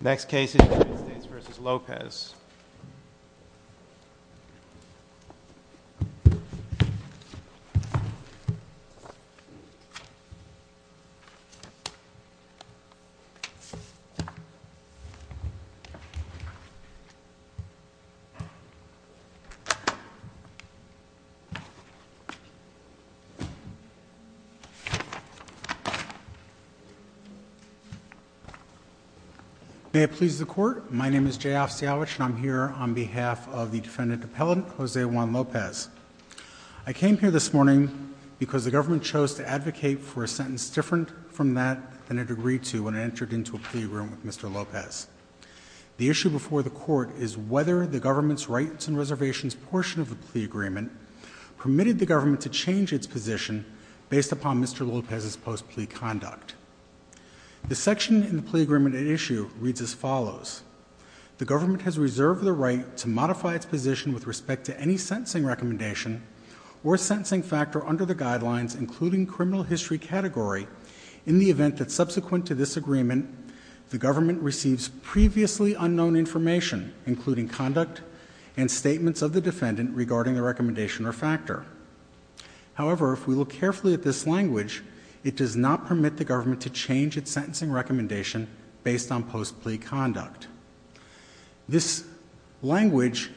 Next case is United States v. Lopez. May it please the court, my name is Jay Ofsiowich and I'm here on behalf of the defendant appellant Jose Juan Lopez. I came here this morning because the government chose to advocate for a sentence different from that than it agreed to when it entered into a plea agreement with Mr. Lopez. The issue before the court is whether the government's rights and reservations portion of the plea agreement permitted the government to change its position based upon Mr. Lopez's post-plea conduct. The section in the plea agreement at issue reads as follows. The government has reserved the right to modify its position with respect to any sentencing recommendation or sentencing factor under the guidelines including criminal history category in the event that subsequent to this agreement the government receives previously unknown information including conduct and statements of the defendant regarding the recommendation or factor. However, if we look carefully at this language, it does not permit the government to change its sentencing recommendation based on post-plea conduct. This language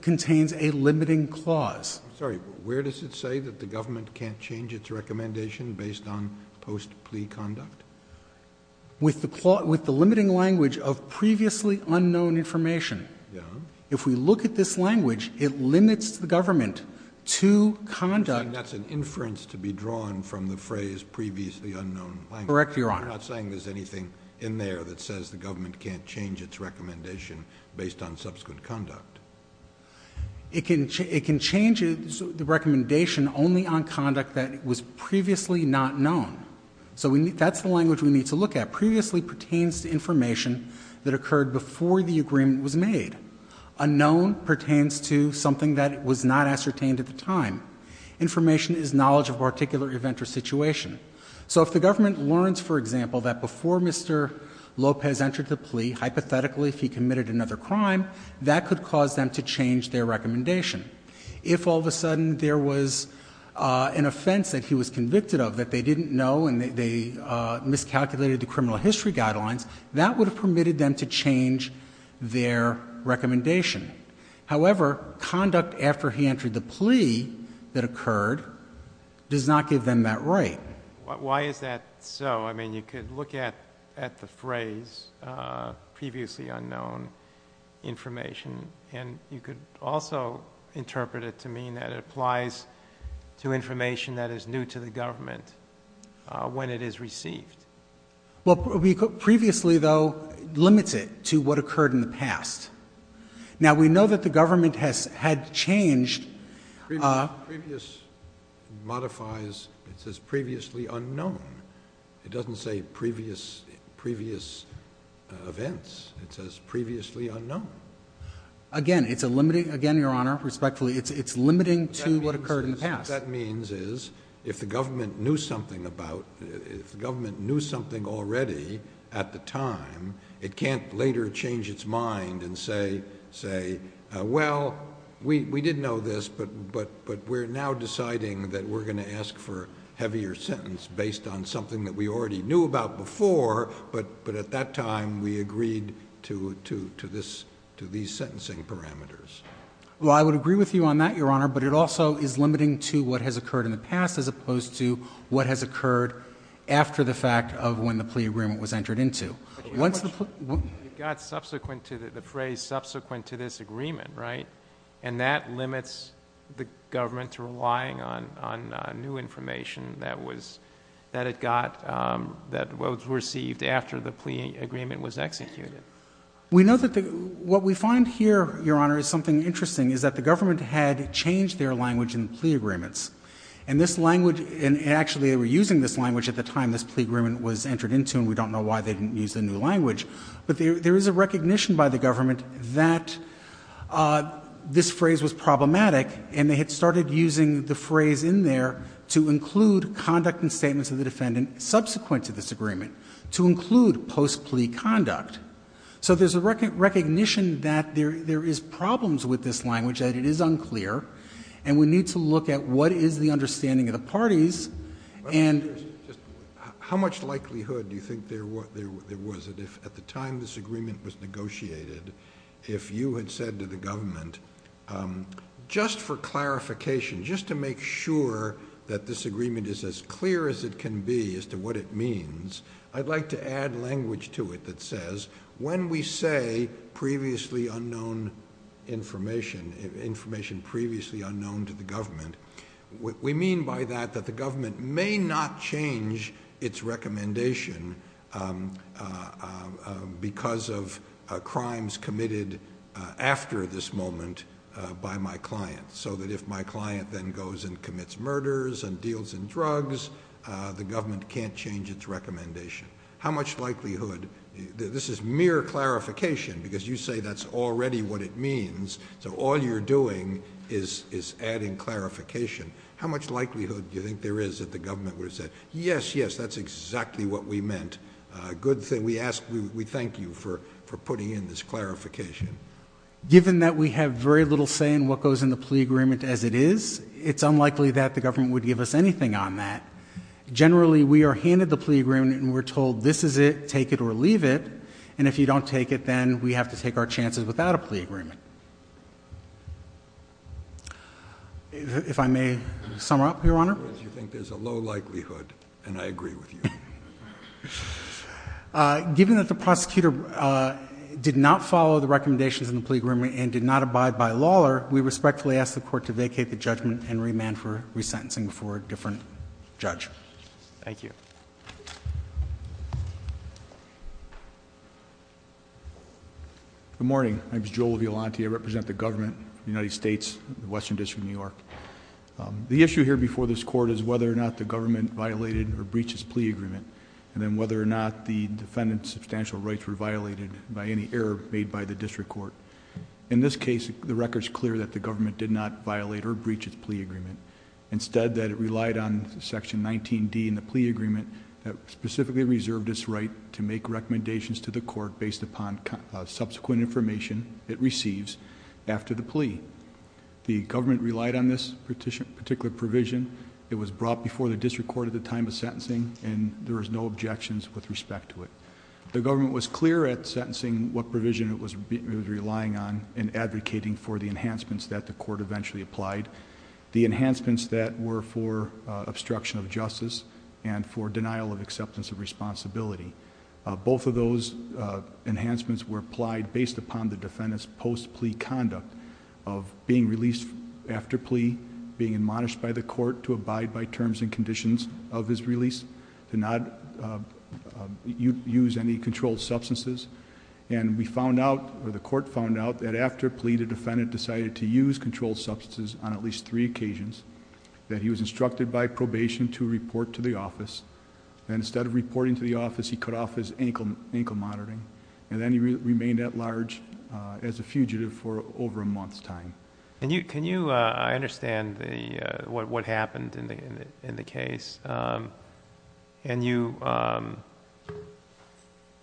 contains a limiting clause. I'm sorry, where does it say that the government can't change its recommendation based on post-plea conduct? With the limiting language of previously unknown information. If we look at this language, it limits the government to conduct. You're saying that's an inference to be drawn from the phrase previously unknown language. Correct, Your Honor. You're not saying there's anything in there that says the government can't change its recommendation based on subsequent conduct. It can change the recommendation only on conduct that was previously not known. So that's the language we need to look at. Previously pertains to information that occurred before the agreement was made. Unknown pertains to something that was not ascertained at the time. Information is knowledge of a particular event or situation. So if the government learns, for example, that before Mr. Lopez entered the plea, hypothetically if he committed another crime, that could cause them to change their recommendation. If all of a sudden there was an offense that he was convicted of that they didn't know and they miscalculated the criminal history guidelines, that would have permitted them to change their recommendation. However, conduct after he entered the plea that occurred does not give them that right. Why is that so? I mean, you could look at the phrase previously unknown information and you could also interpret it to mean that it applies to information that is new to the government when it is received. Well, previously though limits it to what occurred in the past. Now we know that the government had changed Previous modifies, it says previously unknown. It doesn't say previous events. It says previously unknown. Again, it's a limiting, again, Your Honor, respectfully, it's limiting to what occurred in the past. What that means is if the government knew something about, if the government knew something already at the time, it can't later change its mind and say, well, we didn't know this, but we're now deciding that we're going to ask for a heavier sentence based on something that we already knew about before, but at that time we agreed to these sentencing parameters. Well, I would agree with you on that, Your Honor, but it also is limiting to what has occurred in the past as opposed to what has occurred after the fact of when the plea agreement was entered into. You got subsequent to the phrase subsequent to this agreement, right? And that limits the government to relying on new information that was, that it got, that was received after the plea agreement was executed. We know that the, what we find here, Your Honor, is something interesting is that the government had changed their language in the plea agreements and this language, and actually they were using this language at the time this plea agreement was entered into and we don't know why they didn't use the new language, but there is a recognition by the government that this phrase was problematic and they had started using the phrase in there to include conduct and statements of the defendant subsequent to this agreement, to include post-plea conduct. So there's a recognition that there is problems with this language, that it is unclear, and we need to look at what is the understanding of the parties and... If you had said to the government, just for clarification, just to make sure that this agreement is as clear as it can be as to what it means, I'd like to add language to it that says when we say previously unknown information, information previously unknown to the government, we mean by that that the government may not change its recommendation because of crimes committed after this moment by my client, so that if my client then goes and commits murders and deals in drugs, the government can't change its recommendation. How much likelihood, this is mere clarification because you say that's already what it means, so all you're doing is adding clarification. How much likelihood do you think there is that the government would have said, yes, yes, that's exactly what we meant. Good thing we ask, we thank you for putting in this clarification. Given that we have very little say in what goes in the plea agreement as it is, it's unlikely that the government would give us anything on that. Generally we are handed the plea agreement and we're told this is it, take it or leave it, and if you don't take it, then we have to take our chances without a plea agreement. If I may sum up, Your Honor. You think there's a low likelihood and I agree with you. Given that the prosecutor did not follow the recommendations in the plea agreement and did not abide by law, we respectfully ask the court to vacate the judgment and remand for resentencing before a different judge. Thank you. Good morning, my name is Joel Violante. I represent the government of the United States, Western District of New York. The issue here before this court is whether or not the government violated or breached its plea agreement. And then whether or not the defendant's substantial rights were violated by any error made by the district court. In this case, the record's clear that the government did not violate or breach its plea agreement. Instead that it relied on section 19D in the plea agreement that specifically reserved its right to make recommendations to the court based upon subsequent information it receives after the plea. The government relied on this particular provision. It was brought before the district court at the time of sentencing and there was no objections with respect to it. The government was clear at sentencing what provision it was relying on and advocating for the enhancements that the court eventually applied. The enhancements that were for obstruction of justice and for denial of acceptance of responsibility. Both of those enhancements were applied based upon the defendant's post-plea conduct of being released after plea, being admonished by the court to abide by terms and conditions of his release, to not use any controlled substances. And we found out, or the court found out, that after a plea, the defendant decided to use controlled substances on at least three occasions. That he was instructed by probation to report to the office. And instead of reporting to the office, he cut off his ankle monitoring. And then he remained at large as a fugitive for over a month's time. Can you, I understand what happened in the case. And you,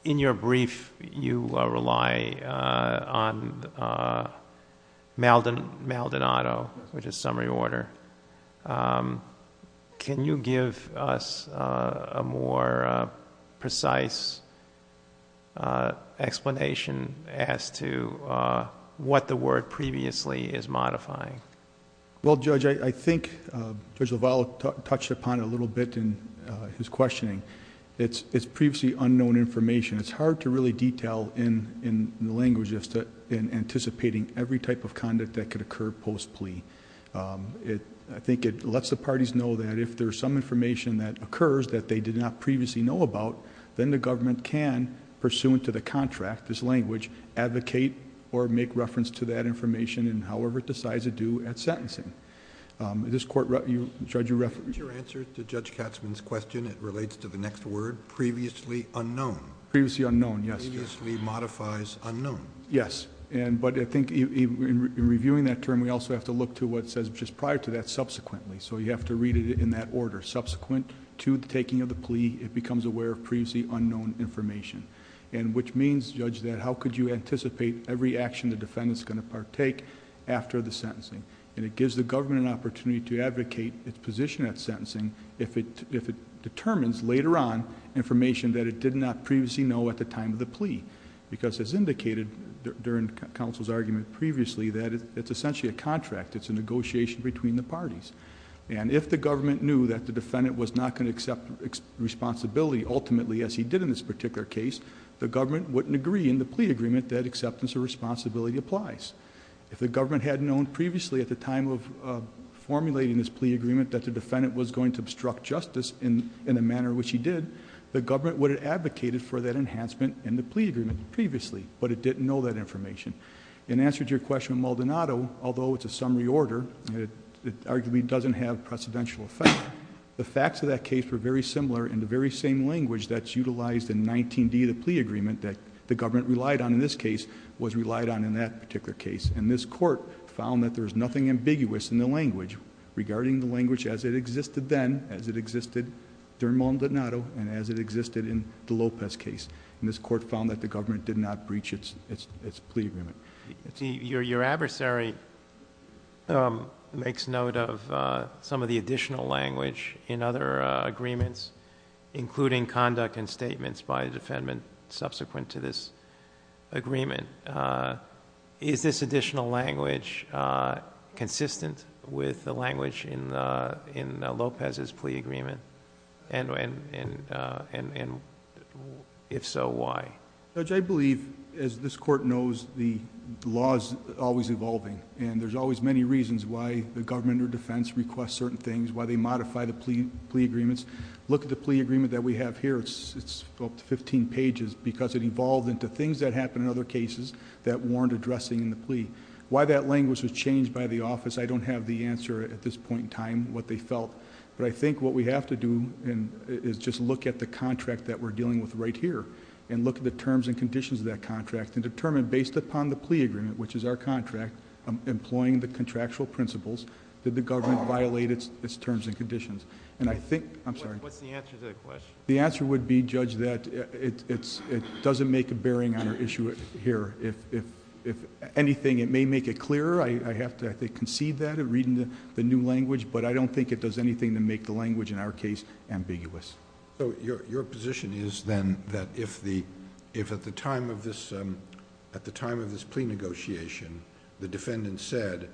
in your brief, you rely on Maldonado, which is summary order. Can you give us a more precise explanation as to what the word previously is modifying? Well, Judge, I think Judge LaValle touched upon it a little bit in his questioning. It's previously unknown information. It's hard to really detail in the language just in anticipating every type of conduct that could occur post-plea. I think it lets the parties know that if there's some information that occurs that they did not previously know about, then the government can, pursuant to the contract, this language, advocate or make reference to that information in however it decides to do at sentencing. This court, Judge, your reference... Is your answer to Judge Katzmann's question, it relates to the next word, previously unknown? Previously unknown, yes. Previously modifies unknown. Yes, but I think in reviewing that term, we also have to look to what says just prior to that subsequently. So you have to read it in that order. Subsequent to the taking of the plea, it becomes aware of previously unknown information. And which means, Judge, that how could you anticipate every action the defendant's going to partake after the sentencing? And it gives the government an opportunity to advocate its position at sentencing if it determines later on information that it did not previously know at the time of the plea. Because as indicated during counsel's argument previously, that it's essentially a contract. It's a negotiation between the parties. And if the government knew that the defendant was not going to accept responsibility ultimately as he did in this particular case, the government wouldn't agree in the plea agreement that acceptance of responsibility applies. If the government had known previously at the time of formulating this plea agreement that the defendant was going to obstruct justice in the manner which he did, the government would have advocated for that enhancement in the plea agreement previously, but it didn't know that information. In answer to your question, Maldonado, although it's a summary order, it arguably doesn't have precedential effect. The facts of that case were very similar in the very same language that's utilized in 19D, the plea agreement that the government relied on in this case was relied on in that particular case. And this court found that there's nothing ambiguous in the language regarding the language as it existed then, as it existed during Maldonado, and as it existed in the Lopez case. And this court found that the government did not breach its plea agreement. Your adversary makes note of some of the additional language in other agreements, including conduct and statements by the defendant subsequent to this agreement. Is this additional language consistent with the language in Lopez's plea agreement? And if so, why? Judge, I believe, as this court knows, the law's always evolving. And there's always many reasons why the government or defense requests certain things, why they modify the plea agreements. Look at the plea agreement that we have here, it's up to 15 pages, because it evolved into things that happened in other cases that weren't addressing the plea. Why that language was changed by the office, I don't have the answer at this point in time, what they felt. But I think what we have to do is just look at the contract that we're dealing with right here. And look at the terms and conditions of that contract and determine, based upon the plea agreement, which is our contract, employing the contractual principles, did the government violate its terms and conditions? And I think, I'm sorry. What's the answer to that question? The answer would be, Judge, that it doesn't make a bearing on our issue here. If anything, it may make it clearer. I have to, I think, concede that in reading the new language. But I don't think it does anything to make the language, in our case, ambiguous. So your position is then that if at the time of this plea negotiation, the defendant said,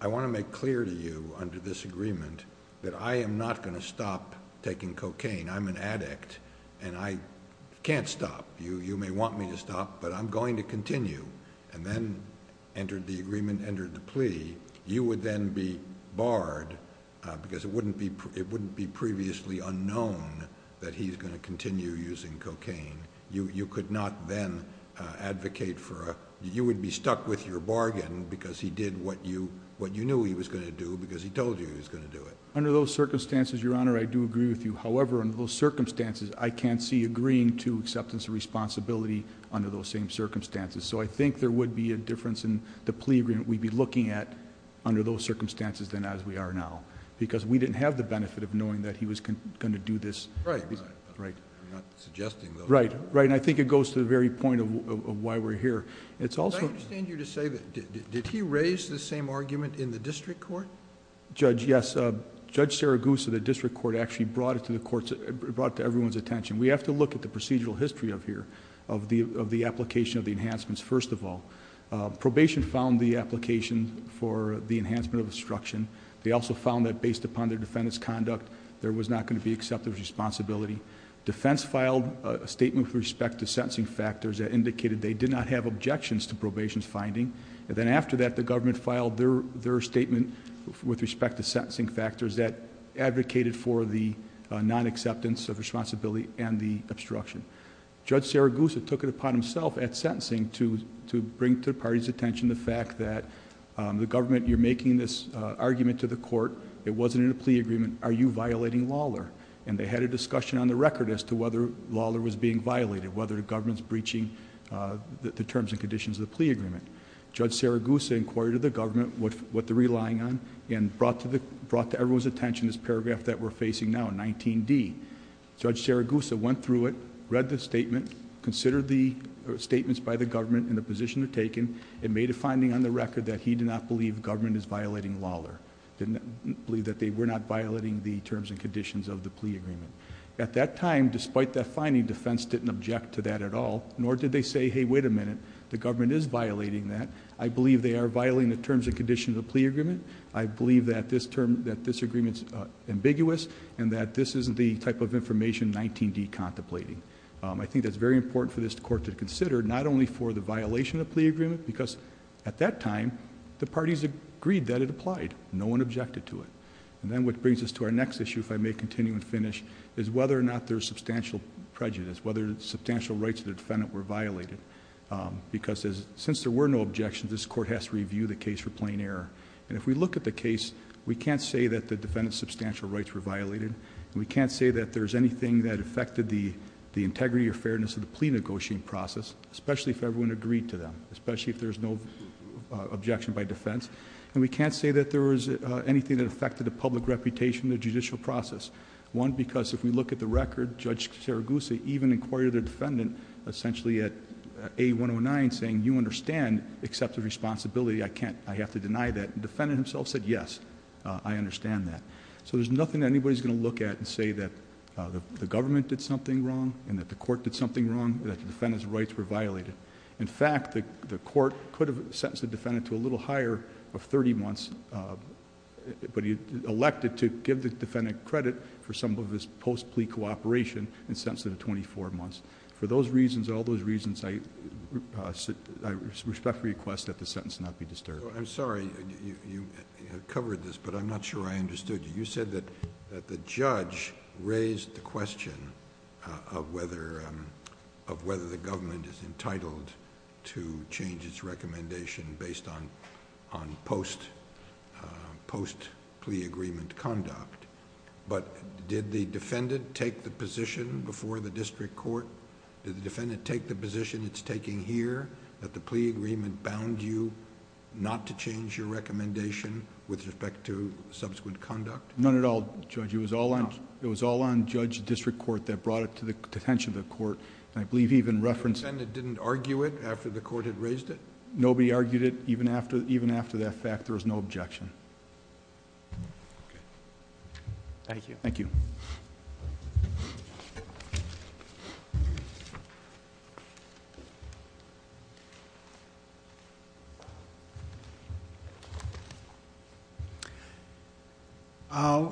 I want to make clear to you under this agreement that I am not going to stop taking cocaine. I'm an addict and I can't stop. You may want me to stop, but I'm going to continue. And then, entered the agreement, entered the plea. You would then be barred, because it wouldn't be previously unknown that he's going to continue using cocaine. You could not then advocate for a, you would be stuck with your bargain, because he did what you knew he was going to do, because he told you he was going to do it. Under those circumstances, Your Honor, I do agree with you. However, under those circumstances, I can't see agreeing to acceptance of responsibility under those same circumstances. So I think there would be a difference in the plea agreement we'd be looking at under those circumstances than as we are now. Because we didn't have the benefit of knowing that he was going to do this. Right. Right. I'm not suggesting though. Right. Right. And I think it goes to the very point of why we're here. It's also- I understand you to say that, did he raise the same argument in the district court? Judge, yes. Judge Saragusa, the district court actually brought it to everyone's attention. We have to look at the procedural history of here, of the application of the enhancements, first of all. Probation found the application for the enhancement of obstruction. They also found that based upon their defendant's conduct, there was not going to be acceptance of responsibility. Defense filed a statement with respect to sentencing factors that indicated they did not have objections to probation's finding. And then after that, the government filed their statement with respect to sentencing factors that advocated for the non-acceptance of responsibility and the obstruction. Judge Saragusa took it upon himself at sentencing to bring to the party's attention the fact that the government, you're making this argument to the court, it wasn't in a plea agreement, are you violating Lawlor? And they had a discussion on the record as to whether Lawlor was being violated, whether the government's breaching the terms and conditions of the plea agreement. Judge Saragusa inquired of the government what they're relying on and brought to everyone's attention this paragraph that we're facing now, 19D. Judge Saragusa went through it, read the statement, considered the statements by the government and the position it had taken. It made a finding on the record that he did not believe the government is violating Lawlor. Didn't believe that they were not violating the terms and conditions of the plea agreement. At that time, despite that finding, defense didn't object to that at all, nor did they say, hey, wait a minute. The government is violating that. I believe they are violating the terms and conditions of the plea agreement. I believe that this agreement's ambiguous and that this isn't the type of information 19D contemplating. I think that's very important for this court to consider, not only for the violation of the plea agreement, because at that time, the parties agreed that it applied. No one objected to it. And then what brings us to our next issue, if I may continue and finish, is whether or not there's substantial prejudice, whether substantial rights of the defendant were violated, because since there were no objections, this court has to review the case for plain error. And if we look at the case, we can't say that the defendant's substantial rights were violated. We can't say that there's anything that affected the integrity or fairness of the plea negotiating process, especially if everyone agreed to them, especially if there's no objection by defense. And we can't say that there was anything that affected the public reputation in the judicial process. One, because if we look at the record, Judge Saragusa even inquired the defendant essentially at A109 saying you understand, accept the responsibility. I have to deny that. The defendant himself said yes, I understand that. So there's nothing that anybody's going to look at and say that the government did something wrong and that the court did something wrong, that the defendant's rights were violated. In fact, the court could have sentenced the defendant to a little higher of 30 months, but he elected to give the defendant credit for some of his post-plea cooperation and sentenced him to 24 months. For those reasons, all those reasons, I respectfully request that the sentence not be disturbed. I'm sorry, you have covered this, but I'm not sure I understood you. You said that the judge raised the question of whether the government is entitled to change its recommendation based on post-plea agreement conduct. But did the defendant take the position before the district court? Did the defendant take the position it's taking here, that the plea agreement bound you not to change your recommendation with respect to subsequent conduct? None at all, Judge. It was all on Judge District Court that brought it to the attention of the court. I believe he even referenced... The defendant didn't argue it after the court had raised it? Nobody argued it. Even after that fact, there was no objection. Thank you. Thank you.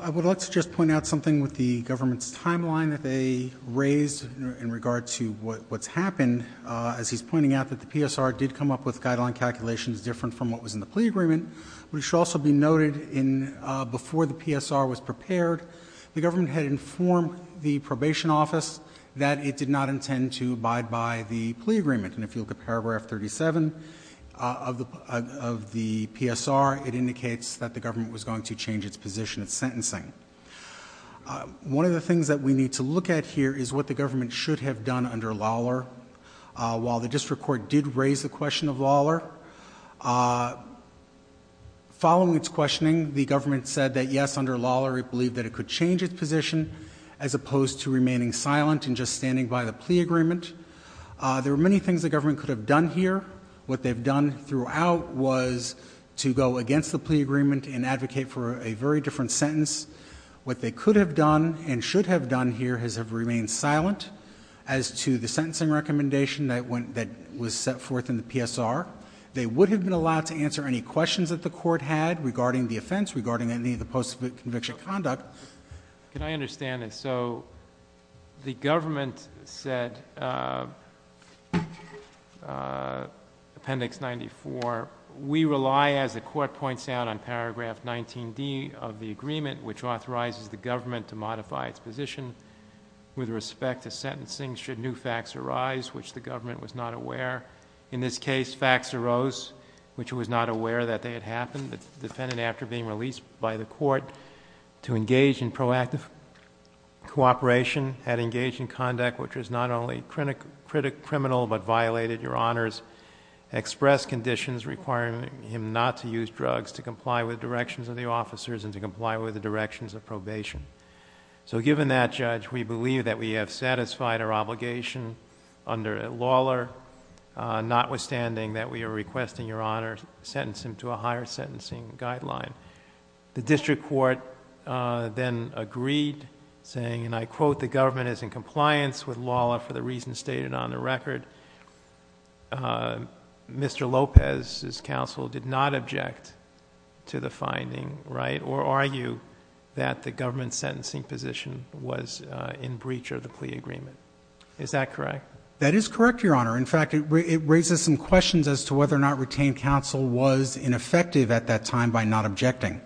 I would like to just point out something with the government's timeline that they raised in regard to what's happened. As he's pointing out, that the PSR did come up with guideline calculations different from what was in the plea agreement. We should also be noted in before the PSR was prepared, the government had informed the probation office that it did not intend to abide by the plea agreement. And if you look at paragraph 37 of the PSR, it indicates that the government was going to change its position of sentencing. One of the things that we need to look at here is what the government should have done under Lawler. While the district court did raise the question of Lawler, following its questioning, the government said that yes, under Lawler, it believed that it could change its position, as opposed to remaining silent and just standing by the plea agreement. There are many things the government could have done here. What they've done throughout was to go against the plea agreement and advocate for a very different sentence. What they could have done and should have done here is have remained silent as to the sentencing recommendation that was set forth in the PSR. They would have been allowed to answer any questions that the court had regarding the offense, regarding any of the post-conviction conduct. Can I understand this? So the government said, appendix 94, we rely, as the court points out on paragraph 19D of the agreement, which authorizes the government to modify its position with respect to sentencing should new facts arise, which the government was not aware. In this case, facts arose, which it was not aware that they had happened. The defendant, after being released by the court to engage in proactive cooperation, had engaged in conduct which was not only criminal but violated your honor's expressed conditions requiring him not to use drugs to comply with directions of the officers and to comply with the directions of probation. So given that, Judge, we believe that we have satisfied our obligation under Lawler, notwithstanding that we are requesting your honor's sentencing to a higher sentencing guideline. The district court then agreed, saying, and I quote, the government is in compliance with Lawler for the reasons stated on the record. Mr. Lopez's counsel did not object to the finding, right? Or argue that the government's sentencing position was in breach of the plea agreement. Is that correct? That is correct, your honor. In fact, it raises some questions as to whether or not retained counsel was ineffective at that time by not objecting.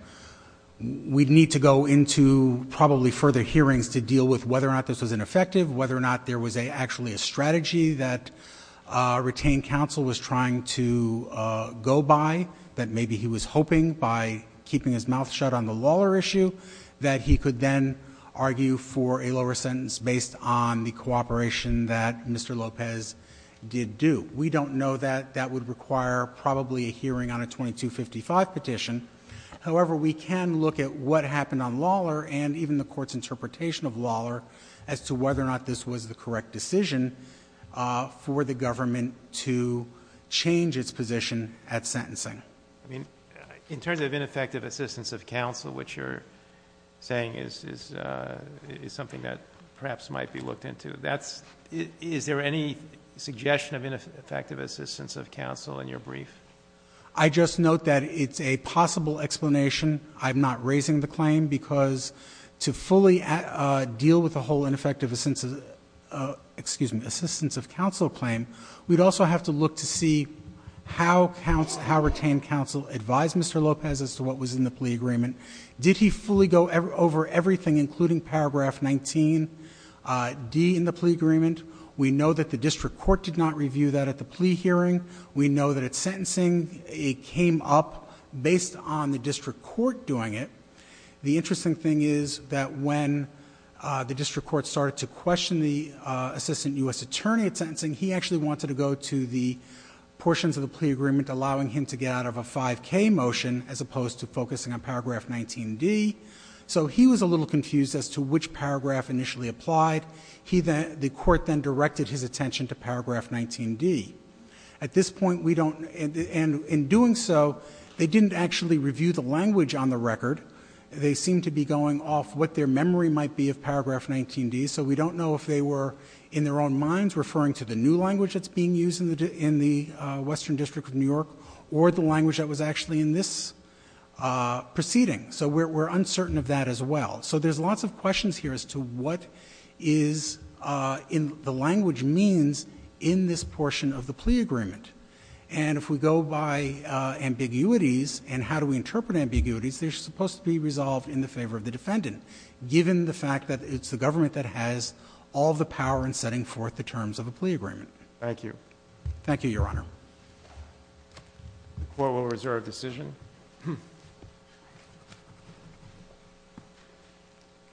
We'd need to go into probably further hearings to deal with whether or not this was ineffective, whether or not there was actually a strategy that retained counsel was trying to go by. That maybe he was hoping by keeping his mouth shut on the Lawler issue, that he could then argue for a lower sentence based on the cooperation that Mr. Lopez did do. We don't know that, that would require probably a hearing on a 2255 petition. However, we can look at what happened on Lawler and even the court's interpretation of Lawler as to whether or not this was the correct decision for the government to change its position at sentencing. I mean, in terms of ineffective assistance of counsel, which you're saying is something that perhaps might be looked into. Is there any suggestion of ineffective assistance of counsel in your brief? I just note that it's a possible explanation. I'm not raising the claim because to fully deal with the whole ineffective assistance of counsel claim, we'd also have to look to see how retained counsel advised Mr. Lopez as to what was in the plea agreement. Did he fully go over everything, including paragraph 19D in the plea agreement? We know that the district court did not review that at the plea hearing. We know that at sentencing, it came up based on the district court doing it. The interesting thing is that when the district court started to question the assistant US attorney at sentencing, he actually wanted to go to the portions of the plea agreement allowing him to get out of a 5K motion as opposed to focusing on paragraph 19D. So he was a little confused as to which paragraph initially applied. The court then directed his attention to paragraph 19D. At this point, we don't, and in doing so, they didn't actually review the language on the record. They seem to be going off what their memory might be of paragraph 19D. So we don't know if they were in their own minds referring to the new language that's being used in the Western District of New York, or the language that was actually in this proceeding. So we're uncertain of that as well. So there's lots of questions here as to what the language means in this portion of the plea agreement. And if we go by ambiguities, and how do we interpret ambiguities, they're supposed to be resolved in the favor of the defendant. Given the fact that it's the government that has all the power in setting forth the terms of a plea agreement. Thank you. Thank you, your honor. The court will reserve decision.